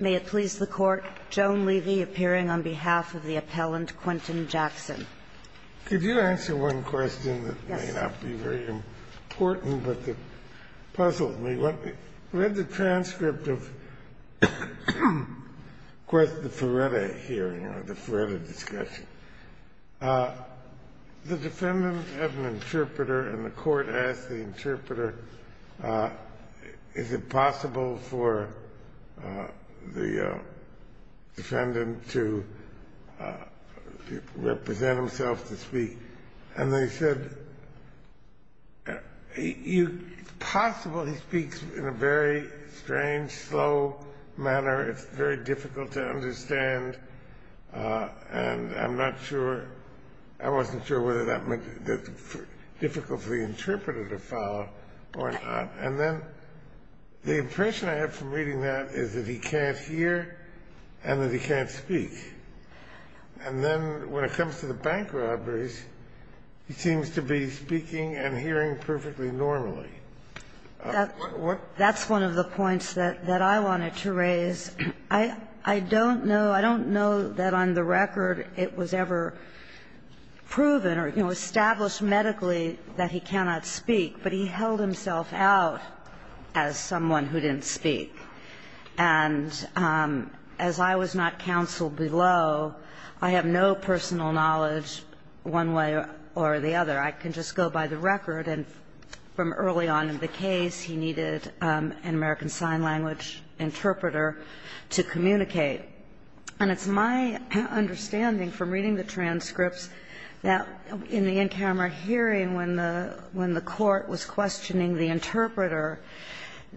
May it please the Court, Joan Levy appearing on behalf of the appellant, Quentin Jackson. Could you answer one question that may not be very important, but it puzzles me. I read the transcript of the Ferretta hearing or the Ferretta discussion. The defendant had an interpreter, and the Court asked the interpreter, is it possible for the defendant to represent himself to speak? And they said, it's possible he speaks in a very strange, slow manner. It's very difficult to understand, and I'm not sure, I wasn't sure whether that meant that the difficult for the interpreter to follow or not. And then the impression I have from reading that is that he can't hear and that he can't speak. And then when it comes to the bank robberies, he seems to be speaking and hearing perfectly normally. That's one of the points that I wanted to raise. I don't know, I don't know that on the record it was ever proven or, you know, established medically that he cannot speak, but he held himself out as someone who didn't speak. And as I was not counsel below, I have no personal knowledge one way or the other. And I'm not sure that the court had ever considered, and from early on in the case, he needed an American sign language interpreter to communicate. And it's my understanding from reading the transcripts that in the in-camera hearing when the Court was questioning the interpreter,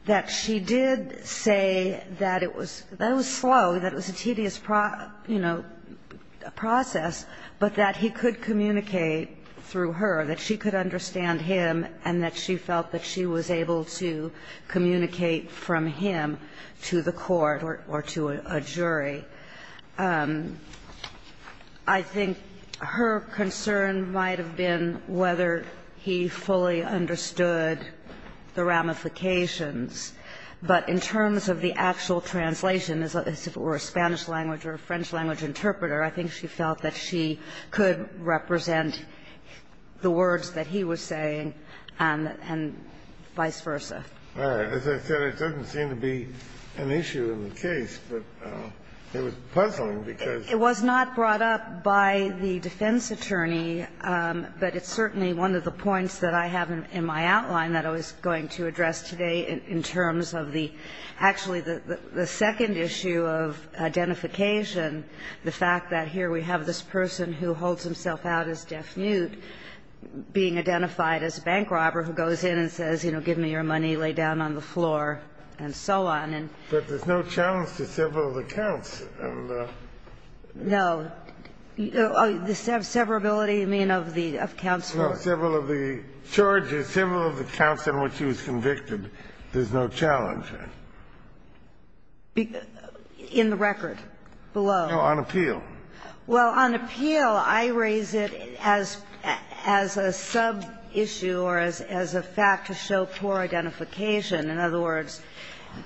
that she did say that it was slow, that it was a tedious, you know, process, but that he could communicate through her, that she could understand him and that she felt that she was able to communicate from him to the court or to a jury. I think her concern might have been whether he fully understood the ramifications, but in terms of the actual translation, as if it were a Spanish language or a French language interpreter, I think she felt that she could represent the words that he was saying and vice versa. As I said, it doesn't seem to be an issue in the case, but it was puzzling because It was not brought up by the defense attorney, but it's certainly one of the points that I have in my outline that I was going to address today in terms of the, actually, the second issue of identification, the fact that here we have this person who holds himself out as deaf-mute being identified as a bank robber who goes in and says, you know, give me your money, lay down on the floor, and so on. But there's no challenge to several of the counts. No. The severability, you mean, of the counts? No, several of the charges, several of the counts in which he was convicted. There's no challenge. In the record below? No, on appeal. Well, on appeal, I raise it as a sub-issue or as a fact to show poor identification. In other words,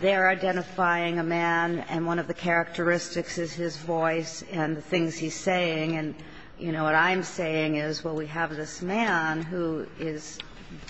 they're identifying a man and one of the characteristics is his voice and the things he's saying, and, you know, what I'm saying is, well, we have this man who is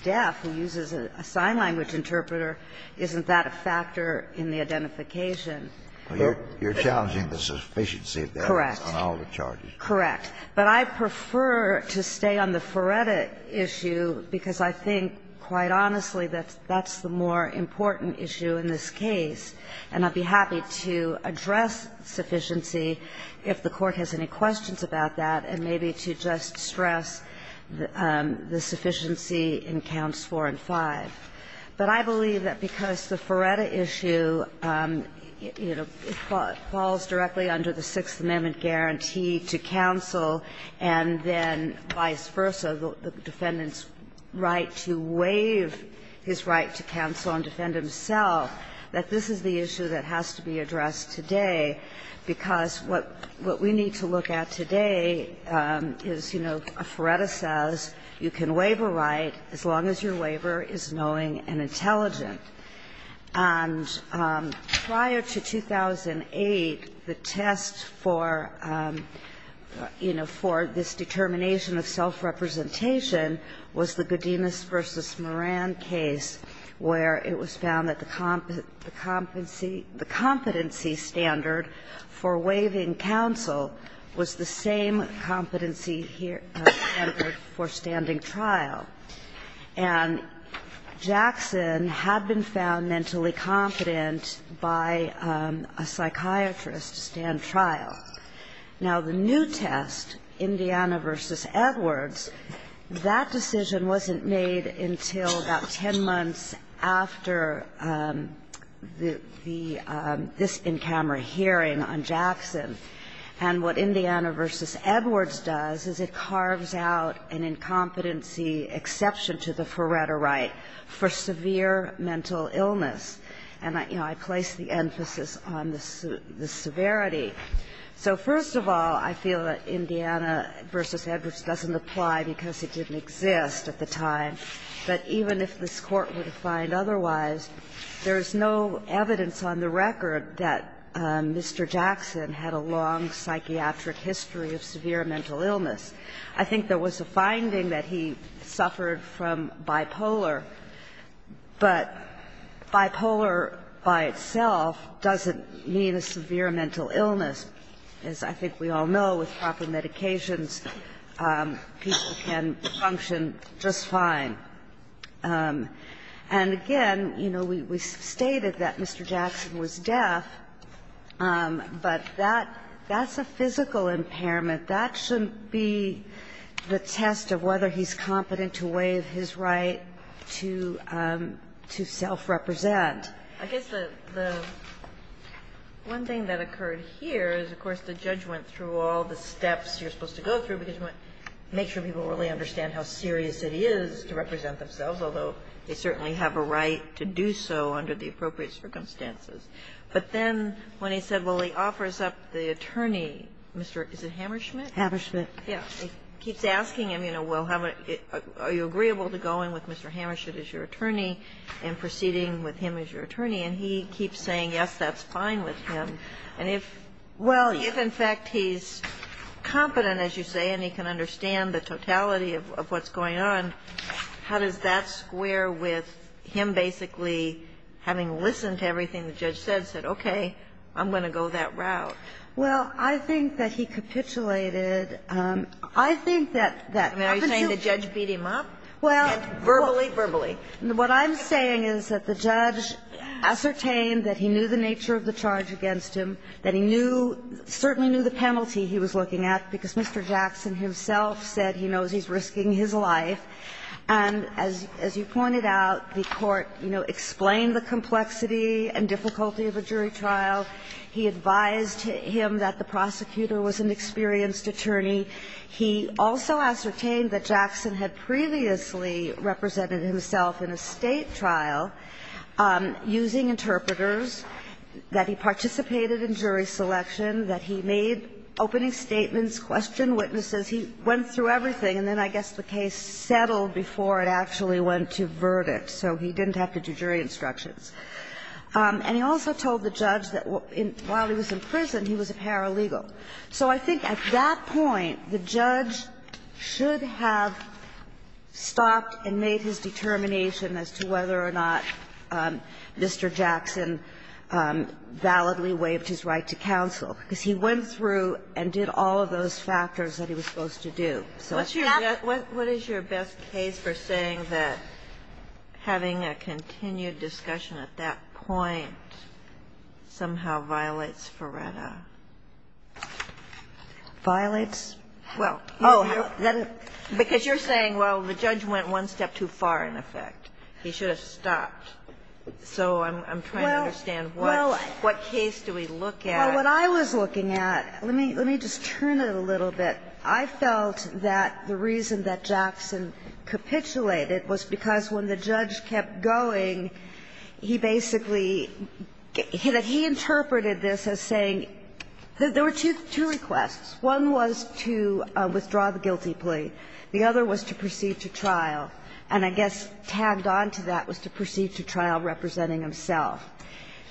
deaf, who uses a sign language interpreter. Isn't that a factor in the identification? You're challenging the sufficiency of the evidence on all the charges. Correct. But I prefer to stay on the Feretta issue because I think, quite honestly, that's the more important issue in this case. And I'd be happy to address sufficiency if the Court has any questions about that and maybe to just stress the sufficiency in counts 4 and 5. But I believe that because the Feretta issue, you know, falls directly under the Sixth Amendment guarantee to counsel and then vice versa, the defendant's right to waive his right to counsel and defend himself, that this is the issue that has to be addressed today, because what we need to look at today is, you know, Feretta says you can waive a right as long as your waiver is knowing and intelligent. And prior to 2008, the test for, you know, for this determination of self-representation was the Godinez v. Moran case where it was found that the competency standard for waiving counsel was the same competency standard for standing trial. And Jackson had been found mentally competent by a psychiatrist to stand trial. Now, the new test, Indiana v. Edwards, that decision wasn't made until about 10 months after the this in-camera hearing on Jackson. And what Indiana v. Edwards does is it carves out an incompetency exception to the Feretta right for severe mental illness. And, you know, I place the emphasis on the severity. So first of all, I feel that Indiana v. Edwards doesn't apply because it didn't exist at the time, but even if this Court would find otherwise, there is no evidence on the record that Mr. Jackson had a long psychiatric history of severe mental illness. I think there was a finding that he suffered from bipolar, but bipolar by itself doesn't mean a severe mental illness. As I think we all know, with proper medications, people can function just fine. And again, you know, we stated that Mr. Jackson was deaf, but that's a physical impairment. That shouldn't be the test of whether he's competent to waive his right to self-represent. I guess the one thing that occurred here is, of course, the judge went through all the steps you're supposed to go through because you want to make sure people really understand how serious it is to represent themselves, although they certainly have a right to do so under the appropriate circumstances. But then when he said, well, he offers up the attorney, Mr. Is it Hammerschmidt? Ginsburg-Hammerschmidt. He keeps asking him, you know, well, are you agreeable to go in with Mr. Hammerschmidt as your attorney and proceeding with him as your attorney, and he keeps saying, yes, that's fine with him. And if, well, if in fact he's competent, as you say, and he can understand the totality of what's going on, how does that square with him basically having listened to everything the judge said, said, okay, I'm going to go that route? Well, I think that he capitulated. I think that that happens to be the case. Are you saying the judge beat him up? Well, what I'm saying is that the judge ascertained that he knew the nature of the charge against him, that he knew, certainly knew the penalty he was looking at because Mr. Jackson himself said he knows he's risking his life, and as you pointed out, the court, you know, explained the complexity and difficulty of a jury trial. He advised him that the prosecutor was an experienced attorney. He also ascertained that Jackson had previously represented himself in a State trial using interpreters, that he participated in jury selection, that he made opening statements, questioned witnesses. He went through everything, and then I guess the case settled before it actually went to verdict, so he didn't have to do jury instructions. And he also told the judge that while he was in prison, he was a paralegal. So I think at that point, the judge should have stopped and made his determination as to whether or not Mr. Jackson validly waived his right to counsel, because he went through and did all of those factors that he was supposed to do. So it's not... Kagan. So what's your best case for saying that having a continued discussion at that point somehow violates Faretta? Violates? Well, you know, because you're saying, well, the judge went one step too far, in effect. He should have stopped. So I'm trying to understand what case do we look at. Well, what I was looking at let me just turn it a little bit. I felt that the reason that Jackson capitulated was because when the judge kept going, he basically, that he interpreted this as saying, there were two requests. One was to withdraw the guilty plea. The other was to proceed to trial. And I guess tagged on to that was to proceed to trial representing himself.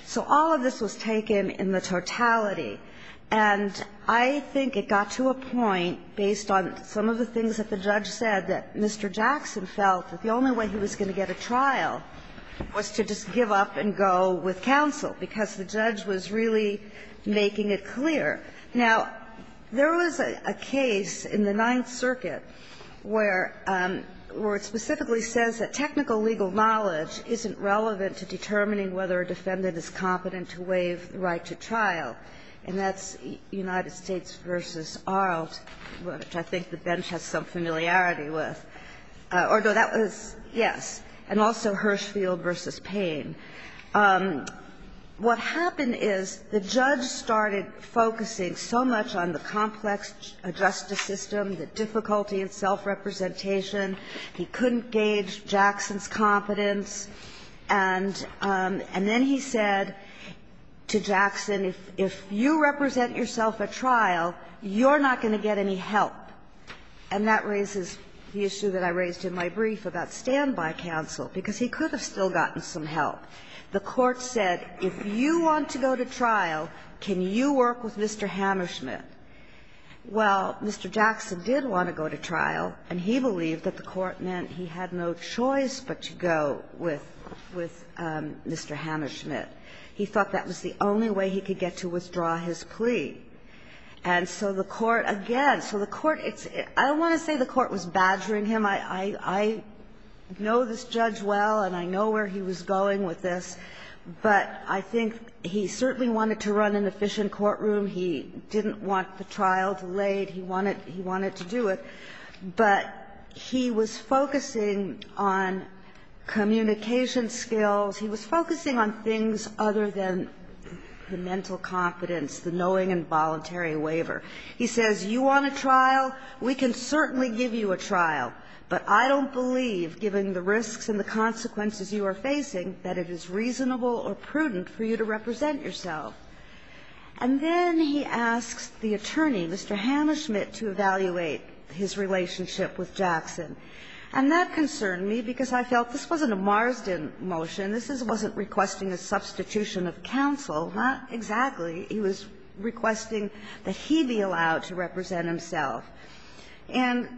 So all of this was taken in the totality. And I think it got to a point, based on some of the things that the judge said, that Mr. Jackson felt that the only way he was going to get a trial was to just give up and go with counsel, because the judge was really making it clear. Now, there was a case in the Ninth Circuit where it specifically says that technical legal knowledge isn't relevant to determining whether a defendant is competent to waive the right to trial. And that's United States v. Arlt, which I think the bench has some familiarity with. Although that was, yes, and also Hirshfield v. Payne. What happened is the judge started focusing so much on the complex justice system, the difficulty in self-representation, he couldn't gauge Jackson's competence. And then he said to Jackson, if you represent yourself at trial, you're not going to get any help. And that raises the issue that I raised in my brief about standby counsel, because he could have still gotten some help. The Court said, if you want to go to trial, can you work with Mr. Hammerschmidt? Well, Mr. Jackson did want to go to trial, and he believed that the Court meant that he had no choice but to go with Mr. Hammerschmidt. He thought that was the only way he could get to withdraw his plea. And so the Court, again, so the Court, it's – I don't want to say the Court was badgering him. I know this judge well, and I know where he was going with this, but I think he certainly wanted to run an efficient courtroom. He didn't want the trial delayed. He wanted to do it. But he was focusing on communication skills. He was focusing on things other than the mental confidence, the knowing and voluntary waiver. He says, you want a trial? We can certainly give you a trial, but I don't believe, given the risks and the consequences you are facing, that it is reasonable or prudent for you to represent yourself. And then he asks the attorney, Mr. Hammerschmidt, to evaluate his relationship with Jackson. And that concerned me because I felt this wasn't a Marsden motion. This wasn't requesting a substitution of counsel, not exactly. He was requesting that he be allowed to represent himself. And,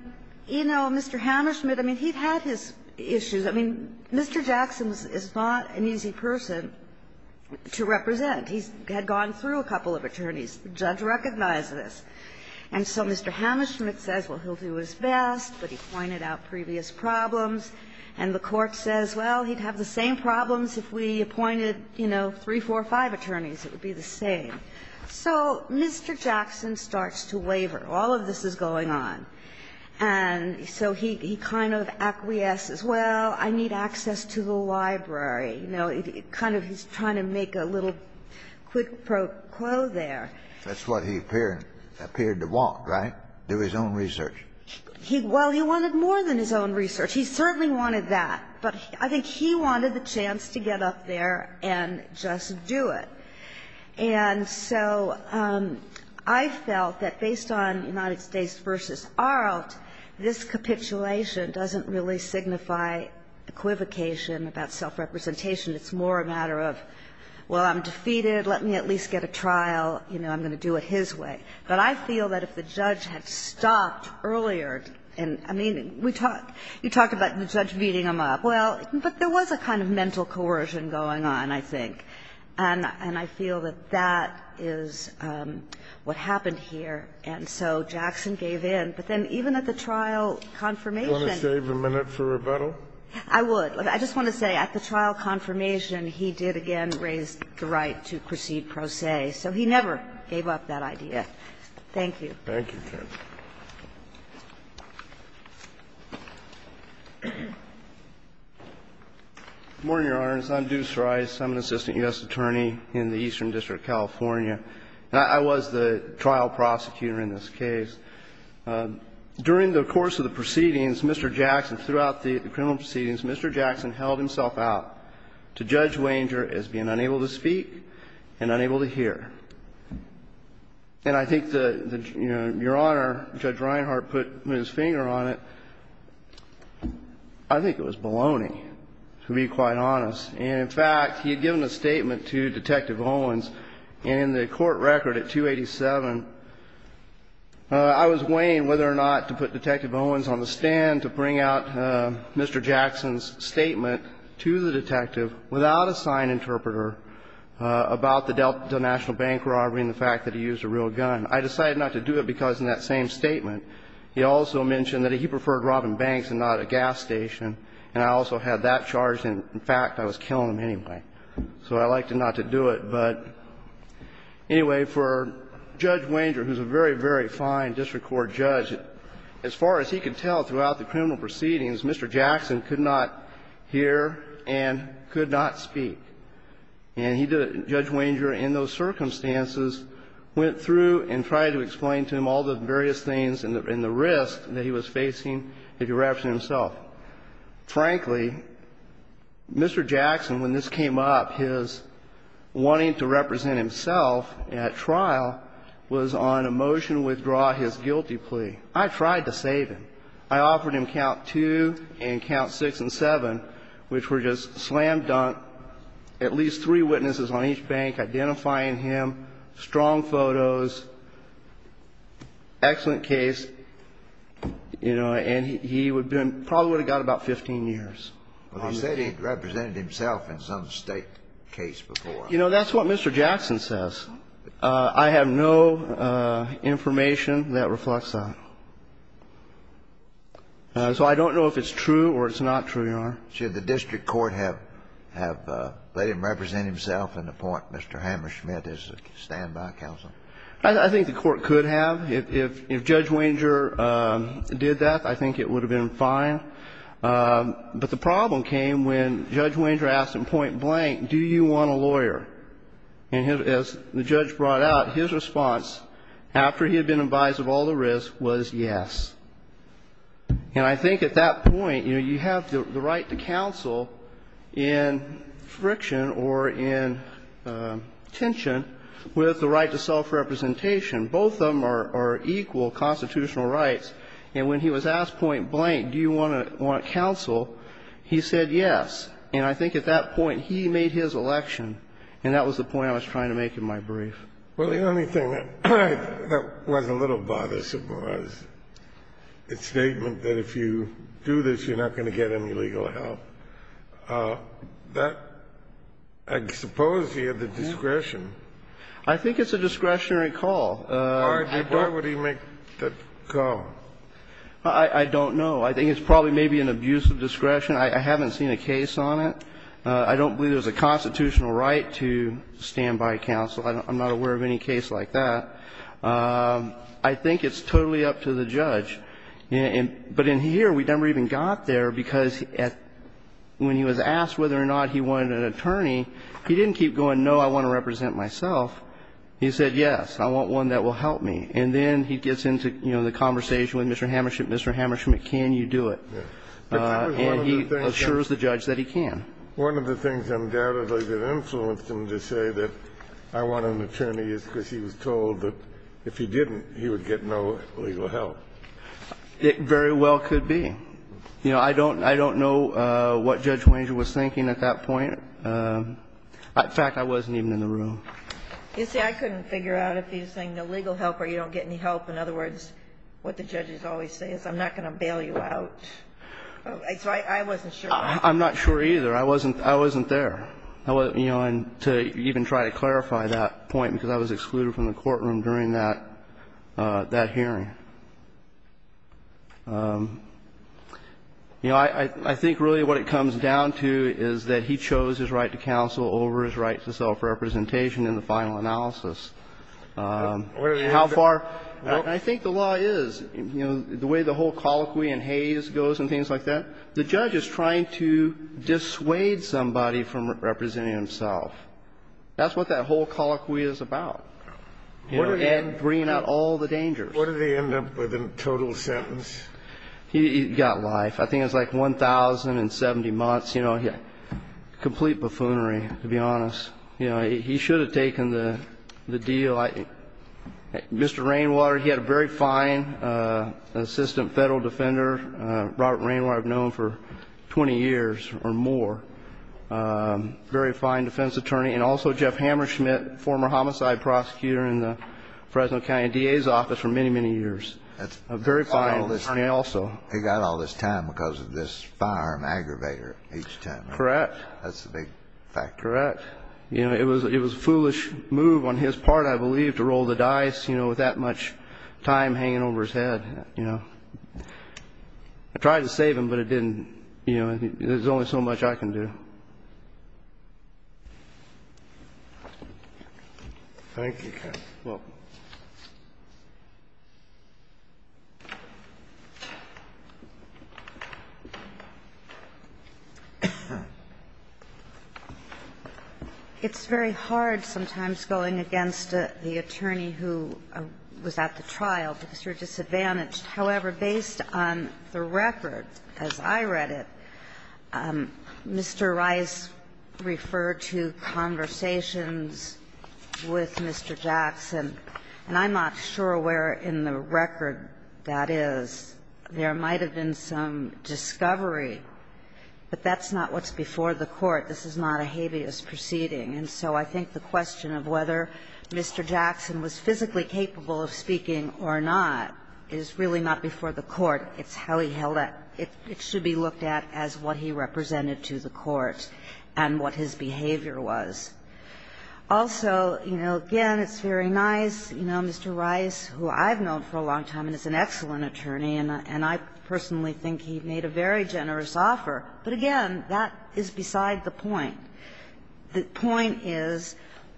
you know, Mr. Hammerschmidt, I mean, he had his issues. I mean, Mr. Jackson is not an easy person to represent. He had gone through a couple of attorneys. The judge recognized this. And so Mr. Hammerschmidt says, well, he'll do his best, but he pointed out previous problems. And the Court says, well, he'd have the same problems if we appointed, you know, three, four, five attorneys. It would be the same. So Mr. Jackson starts to waiver. All of this is going on. And so he kind of acquiesces, well, I need access to the library. You know, kind of he's trying to make a little quid pro quo there. That's what he appeared to want, right, do his own research? Well, he wanted more than his own research. He certainly wanted that. But I think he wanted the chance to get up there and just do it. And so I felt that based on United States v. Arlt, this capitulation doesn't really signify equivocation about self-representation. It's more a matter of, well, I'm defeated. Let me at least get a trial. You know, I'm going to do it his way. But I feel that if the judge had stopped earlier and we talked about the judge beating him up, well, but there was a kind of mental coercion going on, I think. And I feel that that is what happened here. And so Jackson gave in. But then even at the trial confirmation he did, again, raise the right to proceed pro se, so he never gave up that idea. Thank you. Thank you, Judge. Good morning, Your Honors. I'm Deuce Rice. I'm an assistant U.S. attorney in the Eastern District of California. I was the trial prosecutor in this case. During the course of the proceedings, Mr. Jackson, throughout the criminal proceedings, Mr. Jackson held himself out to Judge Wanger as being unable to speak and unable to hear. And I think that, you know, Your Honor, Judge Reinhart put his finger on it. I think it was baloney, to be quite honest. And, in fact, he had given a statement to Detective Owens, and in the court record at 287, I was weighing whether or not to put Detective Owens on the stand to bring out Mr. Jackson's statement to the detective without a sign interpreter about the national bank robbery and the fact that he used a real gun. I decided not to do it because in that same statement he also mentioned that he preferred robbing banks and not a gas station, and I also had that charged, and, in fact, I was killing him anyway. So I elected not to do it. But, anyway, for Judge Wanger, who's a very, very fine district court judge, as far as he could tell throughout the criminal proceedings, Mr. Jackson could not hear and could not speak. And he did it, Judge Wanger, in those circumstances, went through and tried to explain to him all the various things and the risk that he was facing if he were to represent himself. Well, frankly, Mr. Jackson, when this came up, his wanting to represent himself at trial was on a motion to withdraw his guilty plea. I tried to save him. I offered him count two and count six and seven, which were just slam-dunk, at least three witnesses on each bank identifying him, strong photos, excellent case, you know, and he would have been, probably would have got about 15 years. I said he represented himself in some State case before. You know, that's what Mr. Jackson says. I have no information that reflects that. So I don't know if it's true or it's not true, Your Honor. Should the district court have let him represent himself in the point Mr. Hammerschmidt is a standby counsel? I think the court could have. If Judge Wenger did that, I think it would have been fine. But the problem came when Judge Wenger asked him point blank, do you want a lawyer? And as the judge brought out, his response, after he had been advised of all the risk, was yes. And I think at that point, you know, you have the right to counsel in friction or in tension with the right to self-representation. Both of them are equal constitutional rights. And when he was asked point blank, do you want to counsel, he said yes. And I think at that point he made his election, and that was the point I was trying to make in my brief. Well, the only thing that was a little bothersome was the statement that if you do this, you're not going to get any legal help. That, I suppose, he had the discretion. I think it's a discretionary call. Why would he make that call? I don't know. I think it's probably maybe an abuse of discretion. I haven't seen a case on it. I don't believe there's a constitutional right to standby counsel. I'm not aware of any case like that. I think it's totally up to the judge. But in here, we never even got there, because when he was asked whether or not he wanted an attorney, he didn't keep going, no, I want to represent myself. He said, yes, I want one that will help me. And then he gets into, you know, the conversation with Mr. Hammership, Mr. Hammership, can you do it? And he assures the judge that he can. One of the things undoubtedly that influenced him to say that I want an attorney is because he was told that if he didn't, he would get no legal help. It very well could be. You know, I don't know what Judge Wenger was thinking at that point. In fact, I wasn't even in the room. You see, I couldn't figure out if he was saying no legal help or you don't get any help. In other words, what the judges always say is I'm not going to bail you out. So I wasn't sure. I'm not sure either. I wasn't there. You know, and to even try to clarify that point, because I was excluded from the courtroom during that hearing. You know, I think really what it comes down to is that he chose his right to counsel over his right to self-representation in the final analysis. How far – I think the law is, you know, the way the whole colloquy in Hays goes and things like that, the judge is trying to dissuade somebody from representing himself. That's what that whole colloquy is about. You know, Ed bringing out all the dangers. What did he end up with in total sentence? He got life. I think it was like 1,070 months. You know, complete buffoonery, to be honest. You know, he should have taken the deal. Mr. Rainwater, he had a very fine assistant federal defender, Robert Rainwater, I've known for 20 years or more. Very fine defense attorney. And also Jeff Hammerschmidt, former homicide prosecutor in the Fresno County DA's office for many, many years. A very fine attorney also. He got all this time because of this firearm aggravator each time. Correct. That's a big factor. Correct. You know, it was a foolish move on his part, I believe, to roll the dice, you know, with that much time hanging over his head, you know. I tried to save him, but it didn't – you know, there's only so much I can do. Thank you, Ken. You're welcome. It's very hard sometimes going against the attorney who was at the trial because you're disadvantaged. However, based on the record, as I read it, Mr. Rice referred to conversations with Mr. Jackson, and I'm not sure where in the record that is. There might have been some discovery, but that's not what's before the court. This is not a habeas proceeding. And so I think the question of whether Mr. Jackson was physically capable of speaking or not is really not before the court. It's how he held it. It should be looked at as what he represented to the court and what his behavior was. Also, you know, again, it's very nice, you know, Mr. Rice, who I've known for a long time and is an excellent attorney, and I personally think he made a very generous offer, but again, that is beside the point. The point is,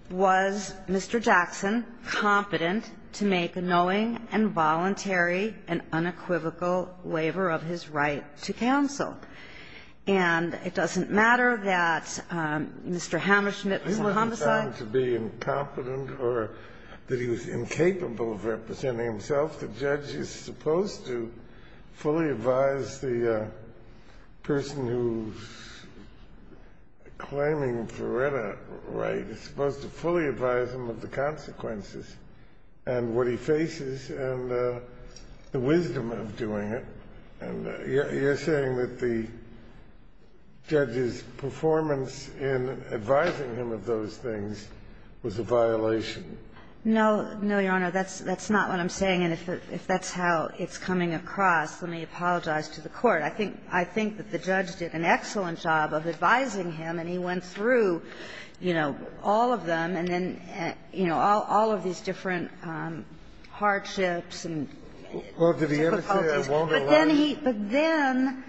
was Mr. Jackson competent to make a knowing and voluntary and unequivocal waiver of his right to counsel? And it doesn't matter that Mr. Hammerschmidt was a homicide. Kennedy, he was found to be incompetent or that he was incapable of representing himself. The judge is supposed to fully advise the person who's claiming Veretta right. It's supposed to fully advise him of the consequences and what he faces and the wisdom of doing it. And you're saying that the judge's performance in advising him of those things was a violation. No. No, Your Honor. That's not what I'm saying. And if that's how it's coming across, let me apologize to the Court. I think that the judge did an excellent job of advising him, and he went through, you know, all of them, and then, you know, all of these different hardships and difficulties. Well, did he ever say, I won't allow it? But then he – but then,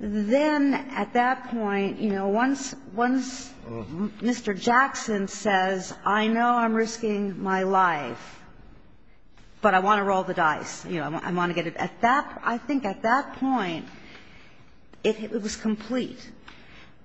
then at that point, you know, once Mr. Jackson says, I know I'm risking my life, but I want to roll the dice, you know, I want to get it at that – I think at that point it was complete.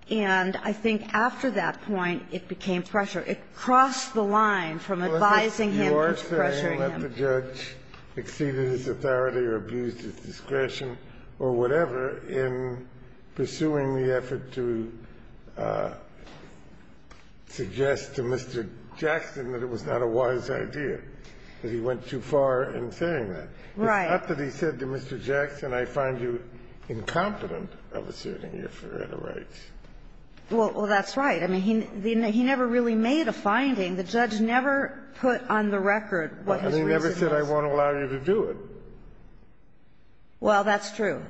And I think after that point it became pressure. It crossed the line from advising him to pressuring him. I don't think the judge exceeded his authority or abused his discretion or whatever in pursuing the effort to suggest to Mr. Jackson that it was not a wise idea, that he went too far in saying that. Right. It's not that he said to Mr. Jackson, I find you incompetent of asserting your freedom of rights. Well, that's right. I mean, he never really made a finding. The judge never put on the record what his reason was. He never said, I won't allow you to do it. Well, that's true.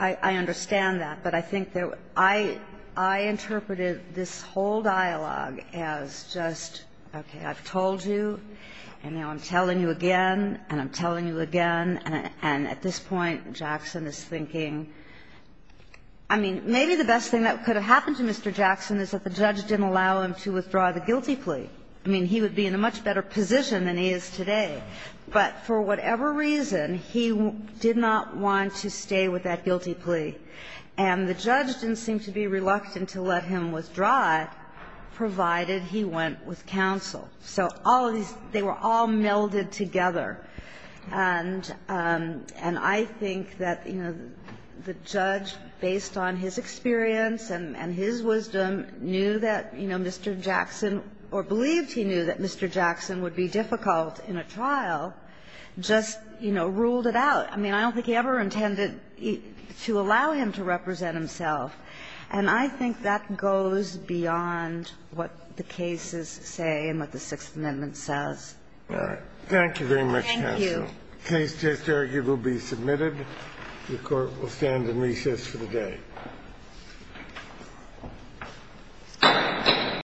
I understand that. But I think that I – I interpreted this whole dialogue as just, okay, I've told you, and now I'm telling you again, and I'm telling you again, and at this point Jackson is thinking, I mean, maybe the best thing that could have happened to Mr. Jackson is that the judge didn't allow him to withdraw the guilty plea. I mean, he would be in a much better position than he is today. But for whatever reason, he did not want to stay with that guilty plea. And the judge didn't seem to be reluctant to let him withdraw it, provided he went with counsel. So all of these – they were all melded together. And I think that, you know, the judge, based on his experience and his wisdom, knew that, you know, Mr. Jackson – or believed he knew that Mr. Jackson would be difficult in a trial, just, you know, ruled it out. I mean, I don't think he ever intended to allow him to represent himself. And I think that goes beyond what the cases say and what the Sixth Amendment says. Thank you. Thank you. The case just argued will be submitted. The Court will stand in recess for the day. Thank you.